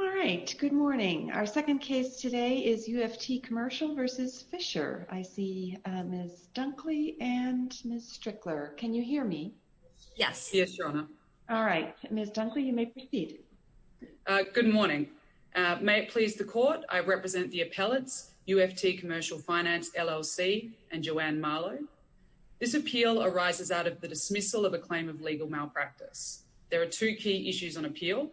All right. Good morning. Our second case today is UFT Commercial v. Fisher. I see Ms. Dunkley and Ms. Strickler. Can you hear me? Yes. Yes, Your Honor. All right. Ms. Dunkley, you may proceed. Good morning. May it please the Court, I represent the appellates, UFT Commercial Finance, LLC, and Joanne Marlow. This appeal arises out of the dismissal of a claim of legal malpractice. There are two key issues on appeal,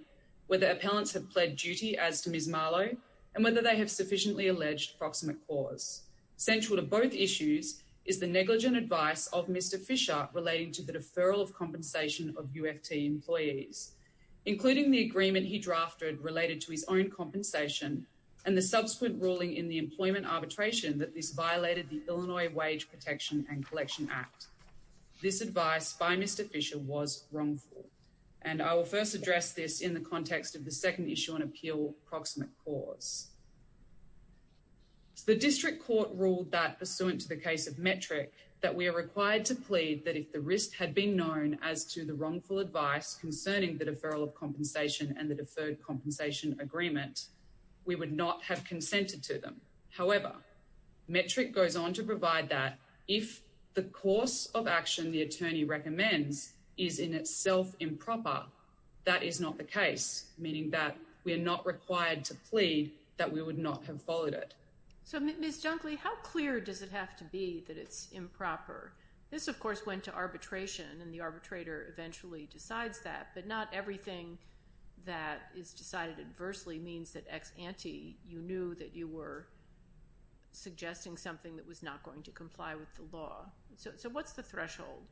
whether appellants have pled duty as to Ms. Marlow and whether they have sufficiently alleged proximate cause. Central to both issues is the negligent advice of Mr. Fisher relating to the deferral of compensation of UFT employees, including the agreement he drafted related to his own compensation and the subsequent ruling in the employment arbitration that this violated the Illinois Wage Protection and Collection Act. This advice by Mr. Fisher was wrongful, and I will first address this in the context of the second issue on appeal, proximate cause. The district court ruled that, pursuant to the case of metric, that we are required to plead that if the risk had been known as to the wrongful advice concerning the deferral of compensation and the deferred compensation agreement, we would not have consented to them. However, metric goes on to provide that if the course of action the attorney recommends is in itself improper, that is not the case, meaning that we are not required to plead that we would not have followed it. So, Ms. Junkley, how clear does it have to be that it's improper? This, of course, went to arbitration, and the arbitrator eventually decides that, but not everything that is decided adversely means that ex ante, you knew that you were suggesting something that was not going to comply with the law. So what's the threshold?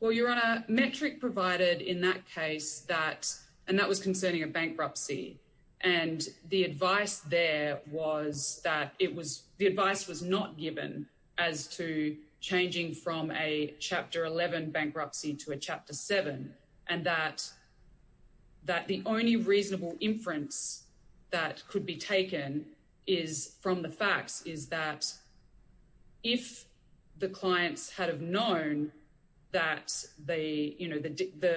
Well, Your Honor, metric provided in that case that, and that was concerning a bankruptcy, and the advice there was that it was, the advice was not given as to changing from a bankruptcy to Chapter 7, and that the only reasonable inference that could be taken is from the facts, is that if the clients had have known that the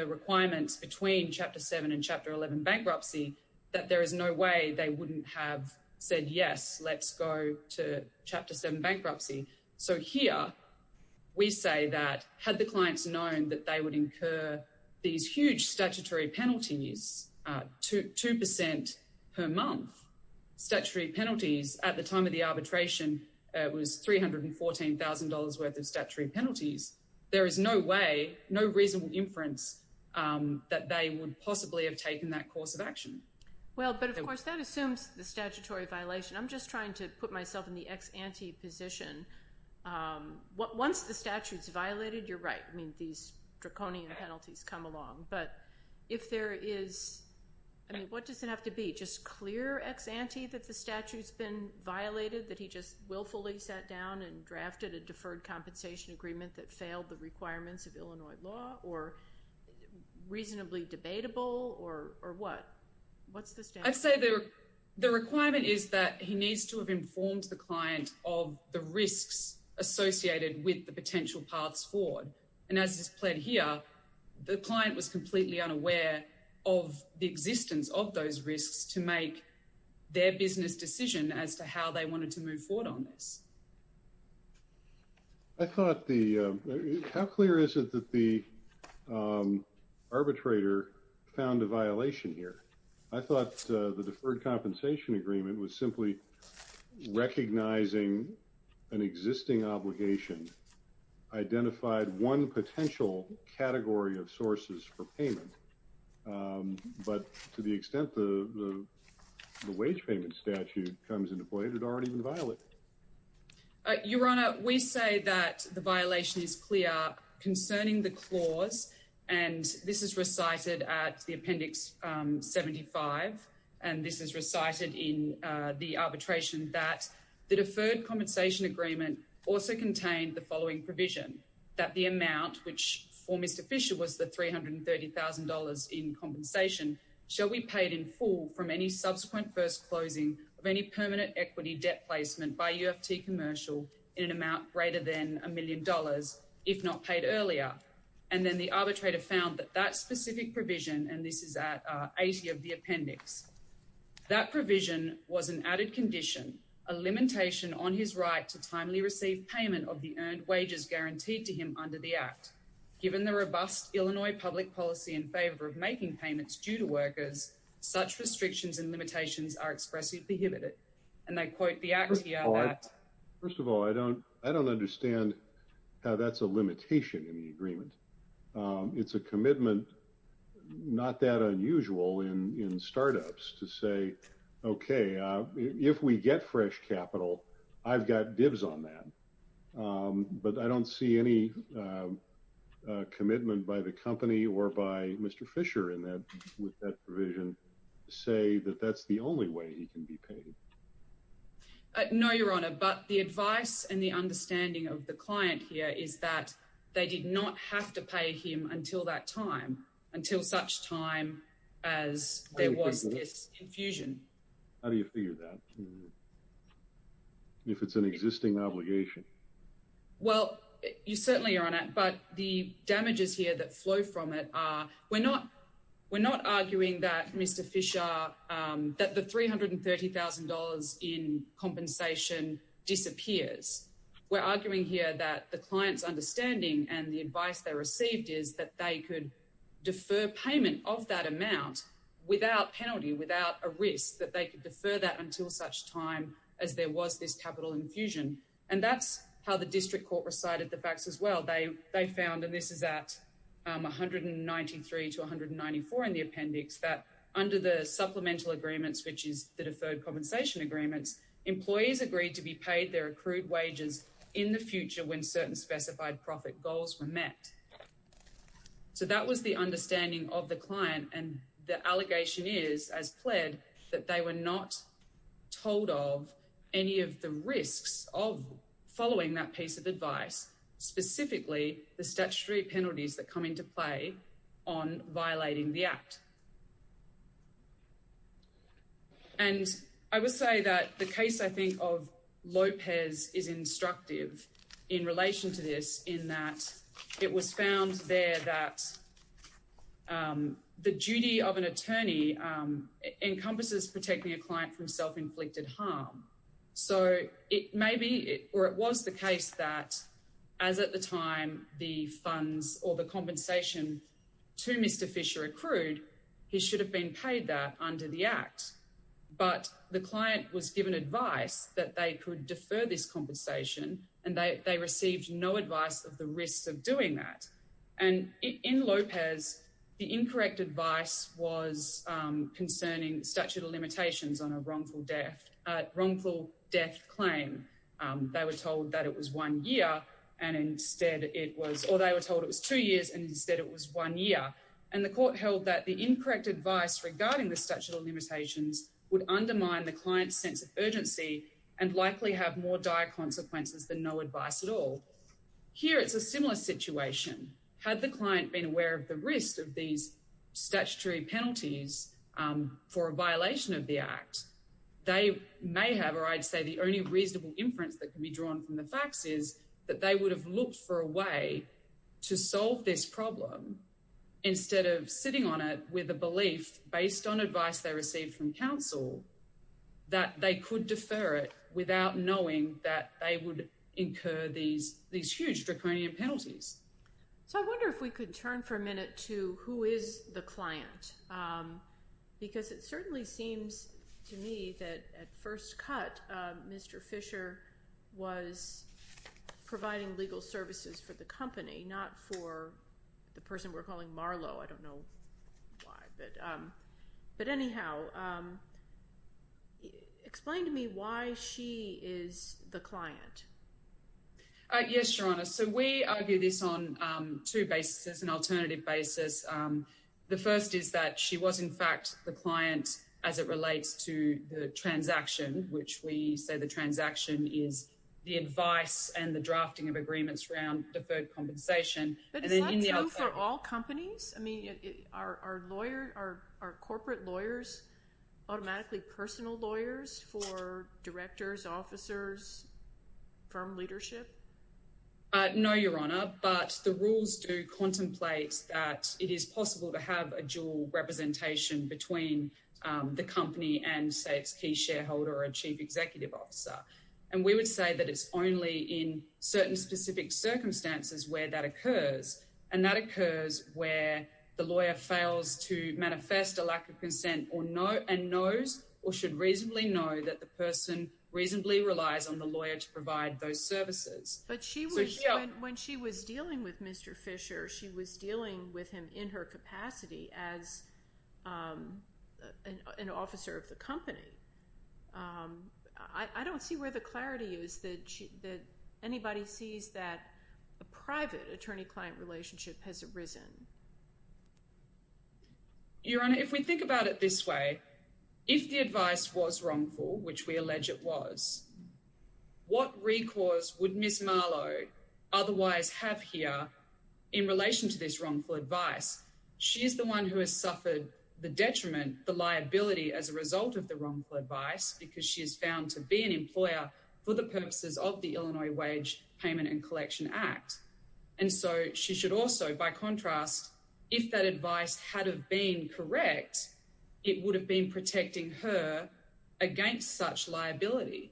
requirements between Chapter 7 and Chapter 11 bankruptcy, that there is no way they wouldn't have said, yes, let's go to Chapter 7 these huge statutory penalties, two percent per month, statutory penalties at the time of the arbitration, it was $314,000 worth of statutory penalties. There is no way, no reasonable inference that they would possibly have taken that course of action. Well, but of course that assumes the statutory violation. I'm just trying to put myself in the ex ante position. Once the statute's come along, but if there is, I mean, what does it have to be? Just clear ex ante that the statute's been violated, that he just willfully sat down and drafted a deferred compensation agreement that failed the requirements of Illinois law, or reasonably debatable, or what? What's the standard? I'd say the requirement is that he needs to have informed the client of the risks associated with the potential paths forward. And as is played here, the client was completely unaware of the existence of those risks to make their business decision as to how they wanted to move forward on this. I thought the, how clear is it that the arbitrator found a violation here? I thought the deferred compensation agreement was simply recognizing an existing obligation, identified one potential category of sources for payment. But to the extent the wage payment statute comes into play, it had already been violated. Your Honor, we say that the violation is clear concerning the clause, and this is recited at the appendix 75. And this is recited in the arbitration that the deferred compensation agreement also contained the following provision, that the amount, which for Mr. Fisher was the $330,000 in compensation, shall be paid in full from any subsequent first closing of any permanent equity debt placement by UFT commercial in an if not paid earlier. And then the arbitrator found that that specific provision, and this is at 80 of the appendix, that provision was an added condition, a limitation on his right to timely receive payment of the earned wages guaranteed to him under the act. Given the robust Illinois public policy in favor of making payments due to workers, such restrictions and limitations are expressly prohibited. And I quote the act. First of all, I don't understand how that's a limitation in the agreement. It's a commitment, not that unusual in startups to say, okay, if we get fresh capital, I've got dibs on that. But I don't see any commitment by the company or by Mr. Fisher in that with that provision, say that that's the only way he can be paid. No, Your Honor, but the advice and the understanding of the client here is that they did not have to pay him until that time, until such time as there was this infusion. How do you figure that? If it's an existing obligation? Well, you certainly are on it, but the damages here that flow from it are, we're not arguing that the $330,000 in compensation disappears. We're arguing here that the client's understanding and the advice they received is that they could defer payment of that amount without penalty, without a risk, that they could defer that until such time as there was this capital infusion. That's how the district court recited the facts as well. They found, and this is at 193 to 194 in the appendix, that under the supplemental agreements, which is the deferred compensation agreements, employees agreed to be paid their accrued wages in the future when certain specified profit goals were met. That was the understanding of the client. The allegation is, as pled, that they were not told of any of the risks of following that piece of advice, specifically the statutory penalties that come into play on violating the act. I would say that the case of Lopez is instructive in relation to this in that it was found there that the duty of an attorney encompasses protecting a client from self-inflicted harm. It was the case that, as at the time, the funds or the compensation to Mr Fisher accrued, he should have been paid that under the act. But the client was given advice that they could not take. In Lopez, the incorrect advice was concerning statute of limitations on a wrongful death claim. They were told it was two years, and instead it was one year. The court held that the incorrect advice regarding the statute of limitations would undermine the client's sense of urgency and likely have more dire consequences than no advice at all. Here, it is a similar situation. Had the client been aware of the risk of these statutory penalties for a violation of the act, they may have—or I would say the only reasonable inference that can be drawn from the facts is that they would have looked for a way to solve this problem instead of sitting on it with the belief, based on advice they received from counsel, that they could defer it without knowing that they would incur these huge draconian penalties. So I wonder if we could turn for a minute to who is the client, because it certainly seems to me that at first cut, Mr Fisher was providing legal services for the company, not for the person we're calling Marlo. I don't know why. But anyhow, explain to me why she is the client. Yes, Your Honor. So we argue this on two bases, an alternative basis. The first is that she was, in fact, the client as it relates to the transaction, which we say the transaction is the advice and the drafting of agreements around deferred compensation. But is that true for all companies? I mean, are corporate lawyers automatically personal lawyers for directors, officers, firm leadership? No, Your Honor, but the rules do contemplate that it is possible to have a dual representation between the company and, say, its key shareholder or a chief executive officer. And we would say that it's only in certain specific circumstances where that occurs. And that occurs where the lawyer fails to manifest a lack of consent and knows or should reasonably know that the person reasonably relies on the lawyer to provide those services. But when she was dealing with Mr Fisher, she was dealing with him in her capacity as an officer of the company. I don't see where the clarity is that anybody sees that private attorney-client relationship has arisen. Your Honor, if we think about it this way, if the advice was wrongful, which we allege it was, what recourse would Ms Marlowe otherwise have here in relation to this wrongful advice? She is the one who has suffered the detriment, the liability as a result of the wrongful advice because she is found to be an employer for the purposes of the Illinois Wage Payment and so she should also, by contrast, if that advice had have been correct, it would have been protecting her against such liability.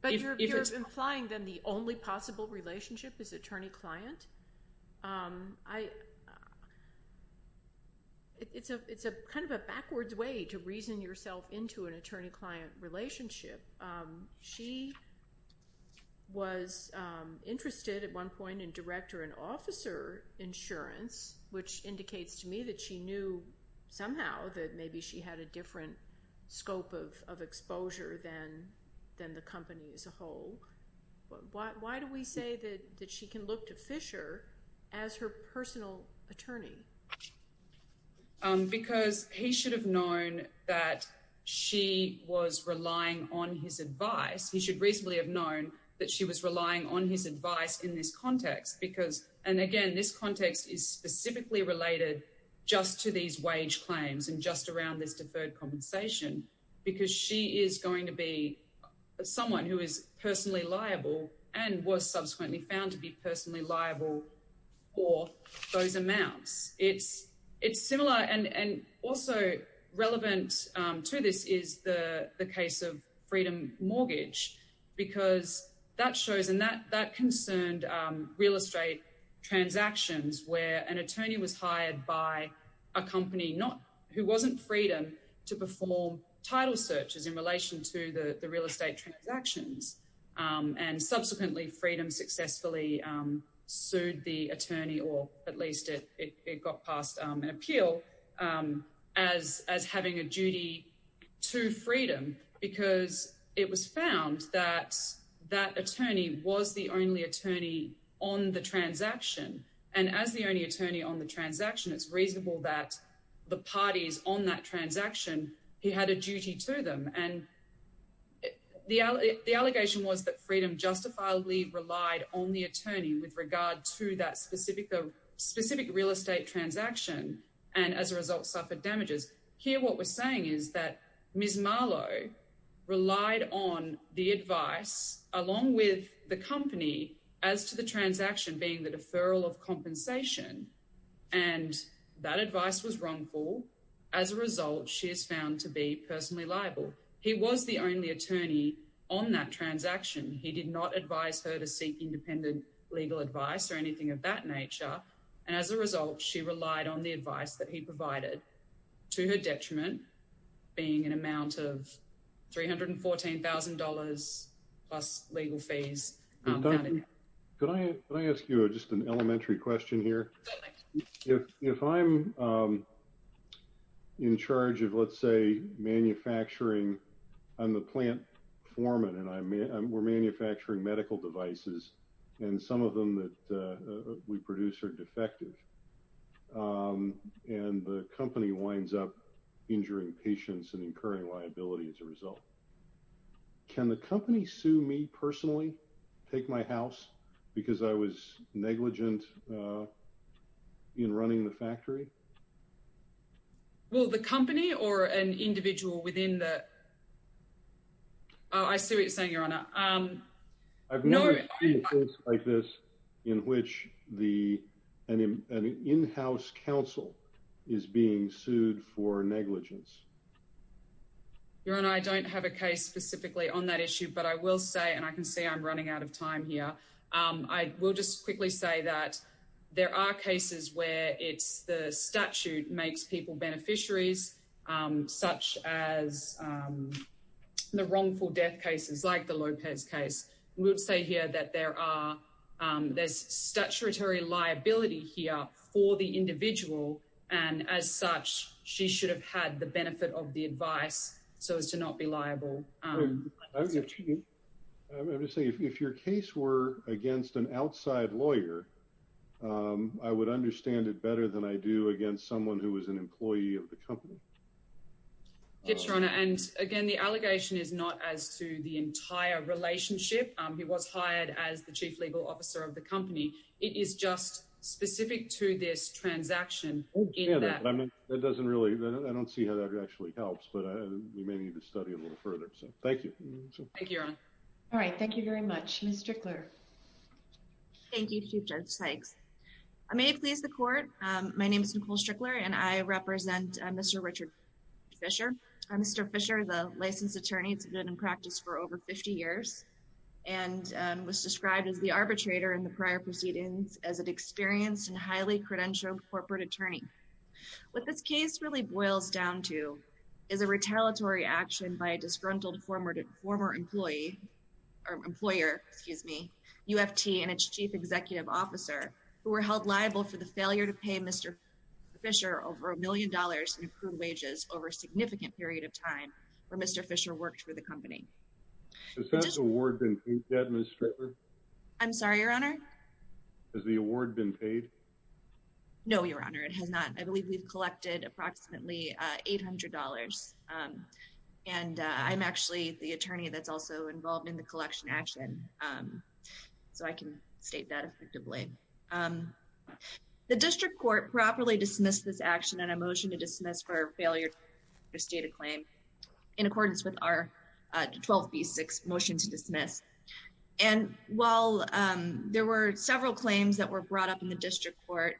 But you're implying then the only possible relationship is attorney-client? It's a kind of a backwards way to reason yourself into an attorney-client relationship. She was interested at one point in director and officer insurance, which indicates to me that she knew somehow that maybe she had a different scope of exposure than the company as a whole. Why do we say that she can look to Fisher as her personal attorney? Because he should have known that she was relying on his advice. He should reasonably have known that she was relying on his advice in this context because and again, this context is specifically related just to these wage claims and just around this deferred compensation because she is going to be someone who is personally liable and was it's similar and also relevant to this is the case of Freedom Mortgage because that shows and that concerned real estate transactions where an attorney was hired by a company who wasn't Freedom to perform title searches in relation to the real estate transactions and subsequently Freedom successfully sued the attorney or at least it got past an appeal as having a duty to Freedom because it was found that that attorney was the only attorney on the transaction and as the only attorney on the transaction it's reasonable that the parties on that transaction he had a duty to them and the allegation was that Freedom justifiably relied on the attorney with regard to that specific real estate transaction and as a result suffered damages. Here what we're saying is that Ms. Marlowe relied on the advice along with the company as to the transaction being the deferral of compensation and that advice was wrongful. As a result, she is found to be personally liable. He was the only attorney on that transaction. He did not advise her to seek independent legal advice or anything of that nature and as a result she relied on the advice that he provided to her detriment being an amount of $314,000 plus legal fees. Can I ask you just an elementary question here? If I'm in charge of let's say manufacturing, I'm the plant foreman and we're manufacturing medical devices and some of them that we produce are defective and the company winds up injuring patients and incurring liability as a result. Can the company sue me personally? Take my house because I was negligent in running the factory? Well, the company or an individual within the... I see what you're saying, Your Honour. I've never seen a case like this in which an in-house counsel is being sued for negligence. Your Honour, I don't have a case specifically on that issue but I will say and I can see I'm running out of time here. I will just quickly say that there are cases where it's the statute makes people beneficiaries such as the wrongful death cases like the Lopez case. We would say here that there's statutory liability here for the individual and as such she should have had benefit of the advice so as to not be liable. I'm going to say if your case were against an outside lawyer, I would understand it better than I do against someone who is an employee of the company. Yes, Your Honour and again the allegation is not as to the entire relationship. He was hired as the chief legal officer of the company. It is just specific to this transaction. I mean that doesn't really... I don't see how that actually helps but we may need to study a little further so thank you. Thank you, Your Honour. All right, thank you very much. Ms. Strickler. Thank you, Chief Judge Sykes. May I please the court? My name is Nicole Strickler and I represent Mr. Richard Fisher. Mr. Fisher is a licensed attorney. He's been in practice for over 50 years and was described as the arbitrator in the prior proceedings as an experienced and highly credentialed corporate attorney. What this case really boils down to is a retaliatory action by a disgruntled former employee or employer, excuse me, UFT and its chief executive officer who were held liable for the failure to pay Mr. Fisher over a million dollars in accrued wages over a significant period of time where Mr. Fisher worked for the company. Has the award been paid yet, Ms. Strickler? I'm sorry, Your Honour? Has the award been paid? No, Your Honour, it has not. I believe we've collected approximately $800 and I'm actually the attorney that's also involved in the collection action so I can state that effectively. The district court properly dismissed this action on a motion to dismiss for failure to state a claim in accordance with our 12b6 motion to dismiss and while there were several claims that were brought up in the district court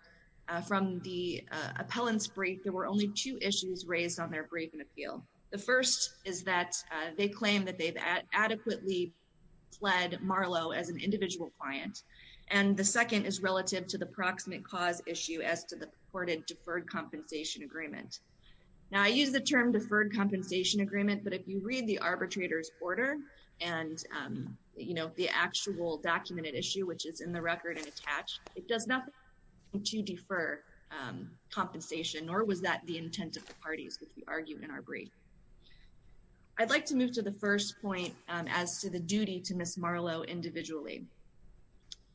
from the appellant's brief, there were only two issues raised on their brief and appeal. The first is that they claim that they've adequately pled Marlowe as an individual client and the second is relative to the proximate cause issue as to the purported deferred compensation agreement. Now I use the term deferred compensation agreement but if you read the arbitrator's order and you know the actual documented issue which is in the record and attached, it does nothing to defer compensation nor was that the intent of the parties which we argued in our brief. I'd like to move to the first point as to the duty to Ms. Marlowe individually.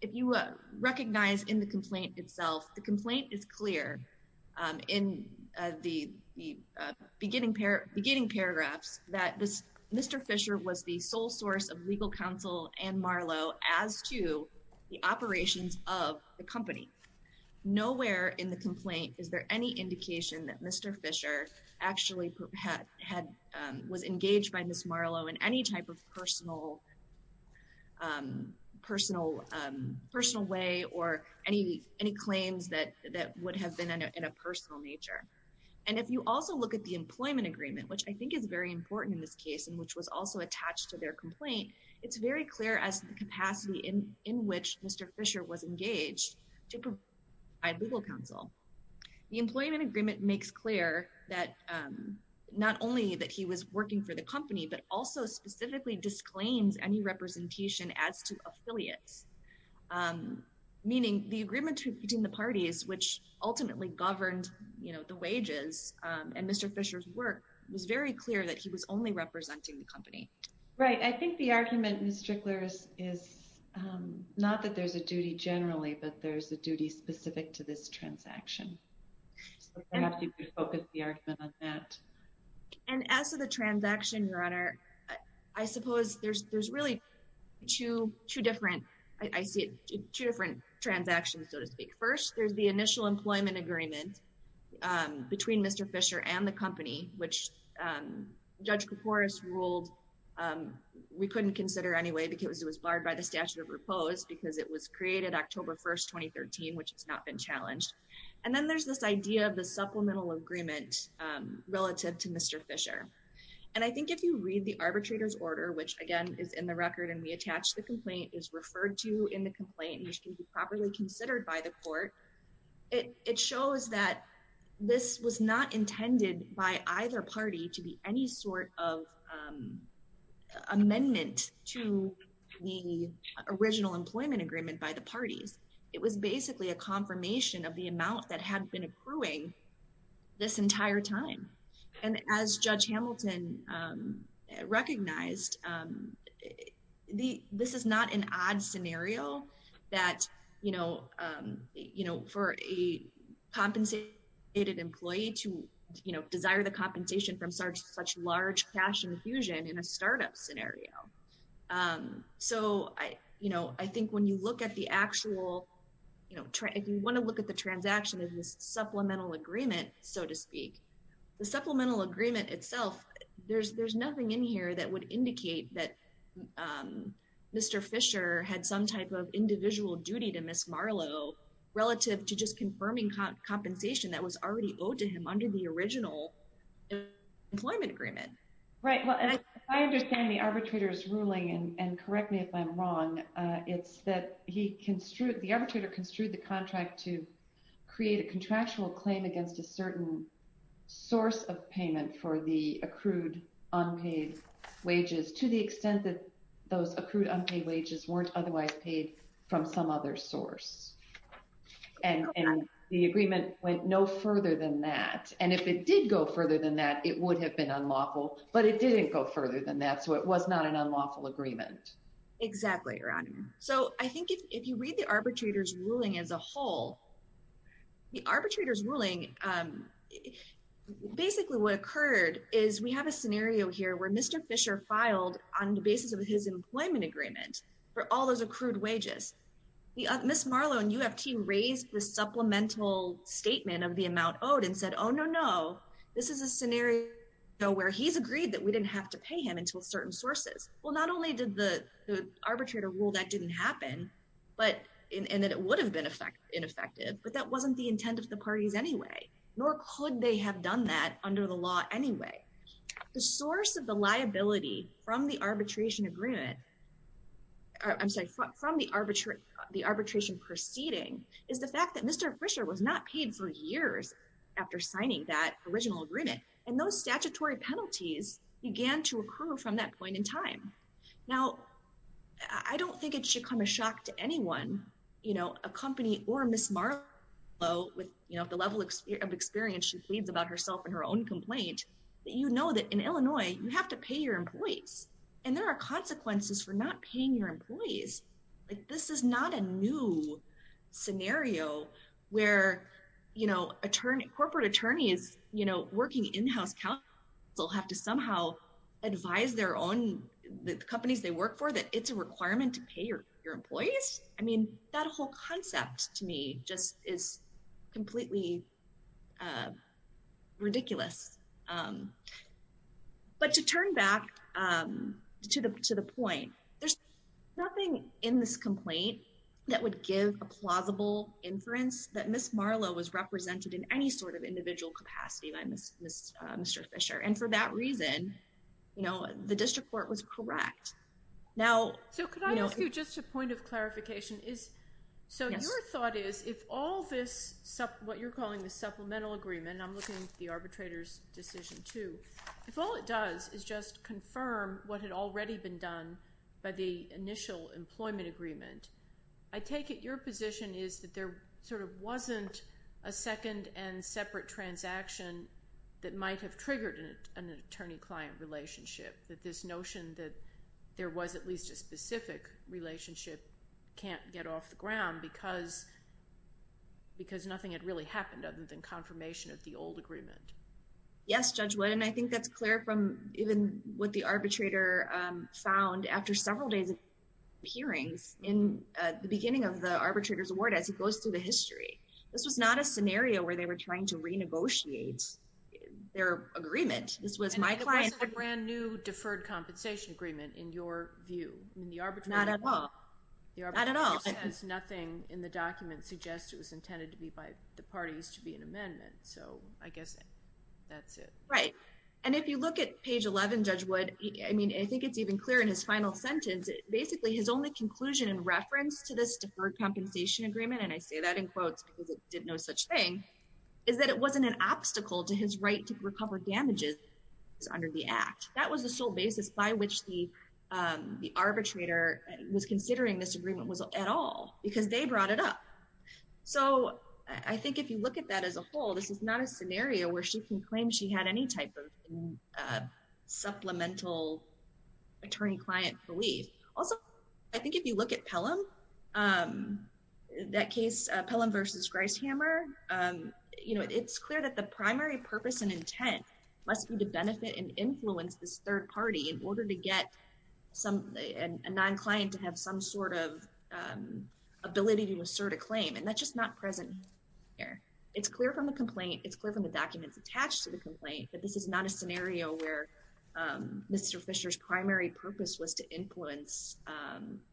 If you recognize in the complaint itself, the complaint is clear in the beginning paragraphs that Mr. Fisher was the sole source of legal counsel and Marlowe as to the operations of the company. Nowhere in the complaint is there any indication that Mr. Fisher actually had was engaged by Ms. Marlowe in any type of personal way or any claims that would have been in a personal nature and if you also look at the employment agreement which I in this case and which was also attached to their complaint, it's very clear as the capacity in in which Mr. Fisher was engaged to provide legal counsel. The employment agreement makes clear that not only that he was working for the company but also specifically disclaims any representation as to affiliates meaning the agreement between the parties which ultimately governed you know only representing the company. Right I think the argument Ms. Strickler is not that there's a duty generally but there's a duty specific to this transaction so perhaps you could focus the argument on that. And as for the transaction your honor I suppose there's there's really two two different I see two different transactions so to speak. First there's the initial employment agreement between Mr. Fisher and the company which Judge Kiporis ruled we couldn't consider anyway because it was barred by the statute of repose because it was created October 1st 2013 which has not been challenged. And then there's this idea of the supplemental agreement relative to Mr. Fisher and I think if you read the arbitrator's order which again is in the record and we attach the complaint is referred to in the complaint which can be properly considered by the court it shows that this was not intended by either party to be any sort of amendment to the original employment agreement by the parties. It was basically a confirmation of the amount that had been accruing this entire time and as Judge Hamilton recognized this is not an odd scenario that for a compensated employee to desire the compensation from such large cash infusion in a startup scenario. So I think when you look at the actual if you want to look at the transaction of this supplemental agreement so to speak the supplemental agreement itself there's nothing in that Mr. Fisher had some type of individual duty to Ms. Marlowe relative to just confirming compensation that was already owed to him under the original employment agreement. Right well and I understand the arbitrator's ruling and correct me if I'm wrong it's that he construed the arbitrator construed the contract to create a contractual claim against a certain source of payment for the accrued unpaid wages to the extent that those accrued unpaid wages weren't otherwise paid from some other source and the agreement went no further than that and if it did go further than that it would have been unlawful but it didn't go further than that so it was not an unlawful agreement. Exactly your honor so I think if you read the arbitrator's ruling as a whole the arbitrator's ruling basically what occurred is we have a scenario here where Mr. Fisher filed on the basis of his employment agreement for all those accrued wages the Ms. Marlowe and UFT raised the supplemental statement of the amount owed and said oh no no this is a scenario where he's agreed that we didn't have to pay him until certain sources well not only did the the arbitrator rule that didn't happen but and that it would have been ineffective but that wasn't the intent of the parties anyway nor could they have done that under the law anyway the source of the liability from the arbitration agreement I'm sorry from the arbitration proceeding is the fact that Mr. Fisher was not paid for years after signing that original agreement and those statutory penalties began to occur from that point in time now I don't think it should come as shock to anyone you know a company or Ms. Marlowe with you know the level of experience she leaves about herself in her own complaint that you know that in Illinois you have to pay your employees and there are consequences for not paying your employees like this is not a new scenario where you know attorney corporate attorneys you know working in-house counsel have to somehow advise their own the companies they work for that it's a requirement to pay your employees I mean that whole concept to me just is completely ridiculous but to turn back to the to the point there's nothing in this complaint that would give a plausible inference that Ms. Marlowe was represented in any sort of individual capacity by Mr. Fisher and for that reason you know the district court was correct now so could what you're calling the supplemental agreement I'm looking at the arbitrator's decision too if all it does is just confirm what had already been done by the initial employment agreement I take it your position is that there sort of wasn't a second and separate transaction that might have triggered an attorney-client relationship that this notion that there was at least a specific relationship can't get off the ground because because nothing had really happened other than confirmation of the old agreement yes judge would and I think that's clear from even what the arbitrator found after several days of hearings in the beginning of the arbitrator's award as he goes through the history this was not a scenario where they were trying to renegotiate their agreement this was my client a brand new deferred compensation agreement in your view in the arbitration not at all the arbitrator says nothing in the document suggests it was to be an amendment so I guess that's it right and if you look at page 11 judge would I mean I think it's even clear in his final sentence basically his only conclusion in reference to this deferred compensation agreement and I say that in quotes because it didn't know such thing is that it wasn't an obstacle to his right to recover damages under the act that was the sole basis by which the the arbitrator was considering this agreement was at all because they brought it up so I think if you look at that as a whole this is not a scenario where she can claim she had any type of supplemental attorney-client belief also I think if you look at Pelham that case Pelham versus Gricehammer you know it's clear that the primary purpose and intent must be to benefit and influence this third party in order to get some a non-client to have some sort of ability to assert a claim and that's just not present here it's clear from the complaint it's clear from the documents attached to the complaint but this is not a scenario where Mr. Fisher's primary purpose was to influence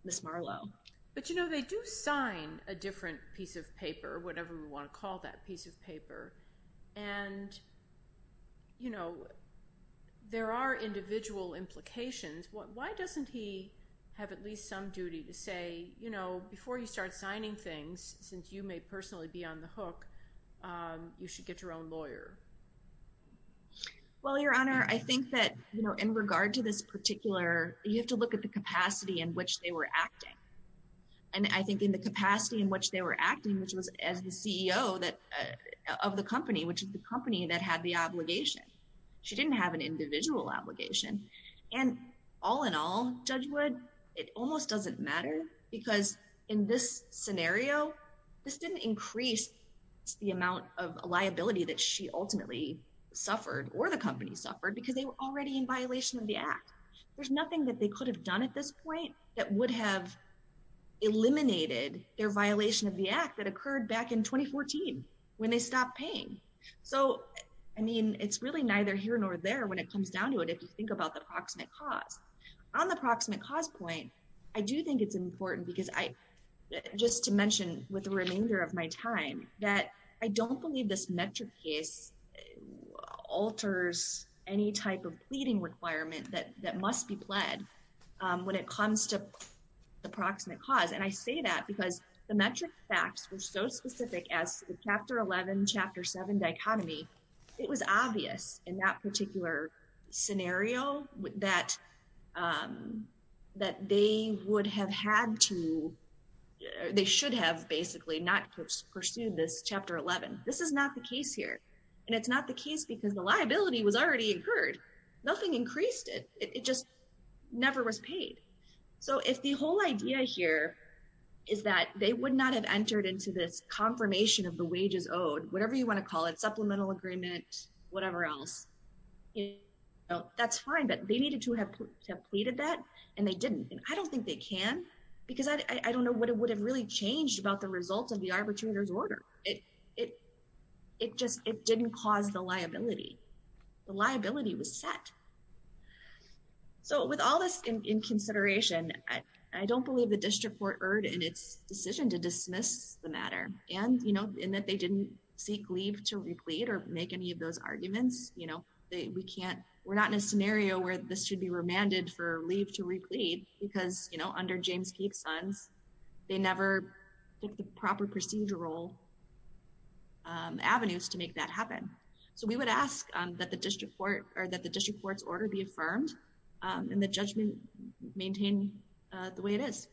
Ms. Marlowe but you know they do sign a different piece of paper whatever we want to call that piece of paper and you know there are some duty to say you know before you start signing things since you may personally be on the hook you should get your own lawyer well your honor I think that you know in regard to this particular you have to look at the capacity in which they were acting and I think in the capacity in which they were acting which was as the CEO that of the company which is the company that had the doesn't matter because in this scenario this didn't increase the amount of liability that she ultimately suffered or the company suffered because they were already in violation of the act there's nothing that they could have done at this point that would have eliminated their violation of the act that occurred back in 2014 when they stopped paying so I mean it's really neither here nor there when it comes down to it if you think about the proximate cause on the proximate cause point I do think it's important because I just to mention with the remainder of my time that I don't believe this metric case alters any type of pleading requirement that that must be pled when it comes to the proximate cause and I say that because the metric facts were so specific as the chapter 11 chapter 7 dichotomy it was obvious in that particular scenario that that they would have had to they should have basically not pursued this chapter 11 this is not the case here and it's not the case because the liability was already incurred nothing increased it it just never was paid so if the whole idea here is that they would not have entered into this confirmation of the wages owed whatever you want to call it supplemental agreement whatever else you know that's fine but they needed to have to have pleaded that and they didn't and I don't think they can because I don't know what it would have really changed about the results of the arbitrator's order it it it just it didn't cause the liability the liability was set so with all this in consideration I don't believe the district court erred in its decision to dismiss the matter and in that they didn't seek leave to replete or make any of those arguments you know they we can't we're not in a scenario where this should be remanded for leave to replete because you know under James Peake's sons they never took the proper procedural avenues to make that happen so we would ask that the district court or that the district court's order be affirmed and the judgment maintain the it is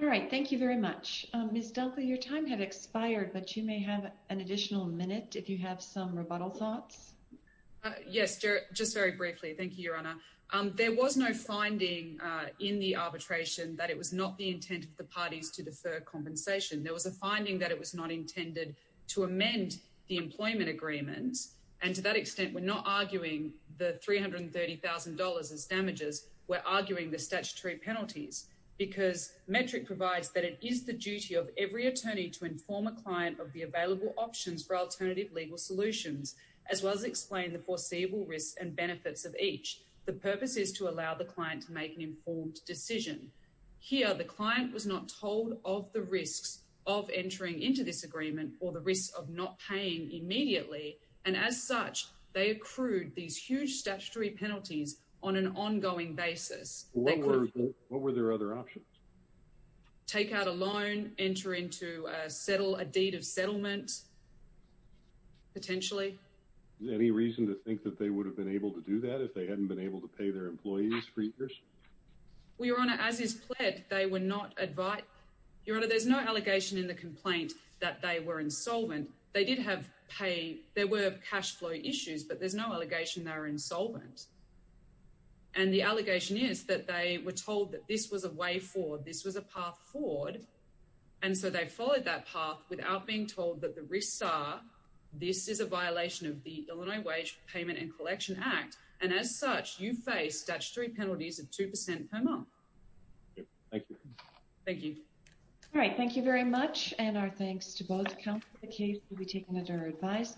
all right thank you very much um miss dunkley your time had expired but you may have an additional minute if you have some rebuttal thoughts uh yes just very briefly thank you your honor um there was no finding uh in the arbitration that it was not the intent of the parties to defer compensation there was a finding that it was not intended to amend the employment agreements and to that extent we're not arguing the three hundred and thirty thousand dollars as arguing the statutory penalties because metric provides that it is the duty of every attorney to inform a client of the available options for alternative legal solutions as well as explain the foreseeable risks and benefits of each the purpose is to allow the client to make an informed decision here the client was not told of the risks of entering into this agreement or the risk of not paying immediately and as such they accrued these huge statutory penalties on an ongoing basis what were their other options take out a loan enter into a settle a deed of settlement potentially any reason to think that they would have been able to do that if they hadn't been able to pay their employees for years well your honor as is pled they were not advised your honor there's no allegation in the complaint that they were insolvent they did have paid there were cash flow issues but there's no allegation they were insolvent and the allegation is that they were told that this was a way forward this was a path forward and so they followed that path without being told that the risks are this is a violation of the illinois wage payment and collection act and as such you face statutory penalties of two percent per month thank you thank you all right thank you very much and our thanks to both counsel the case will be taken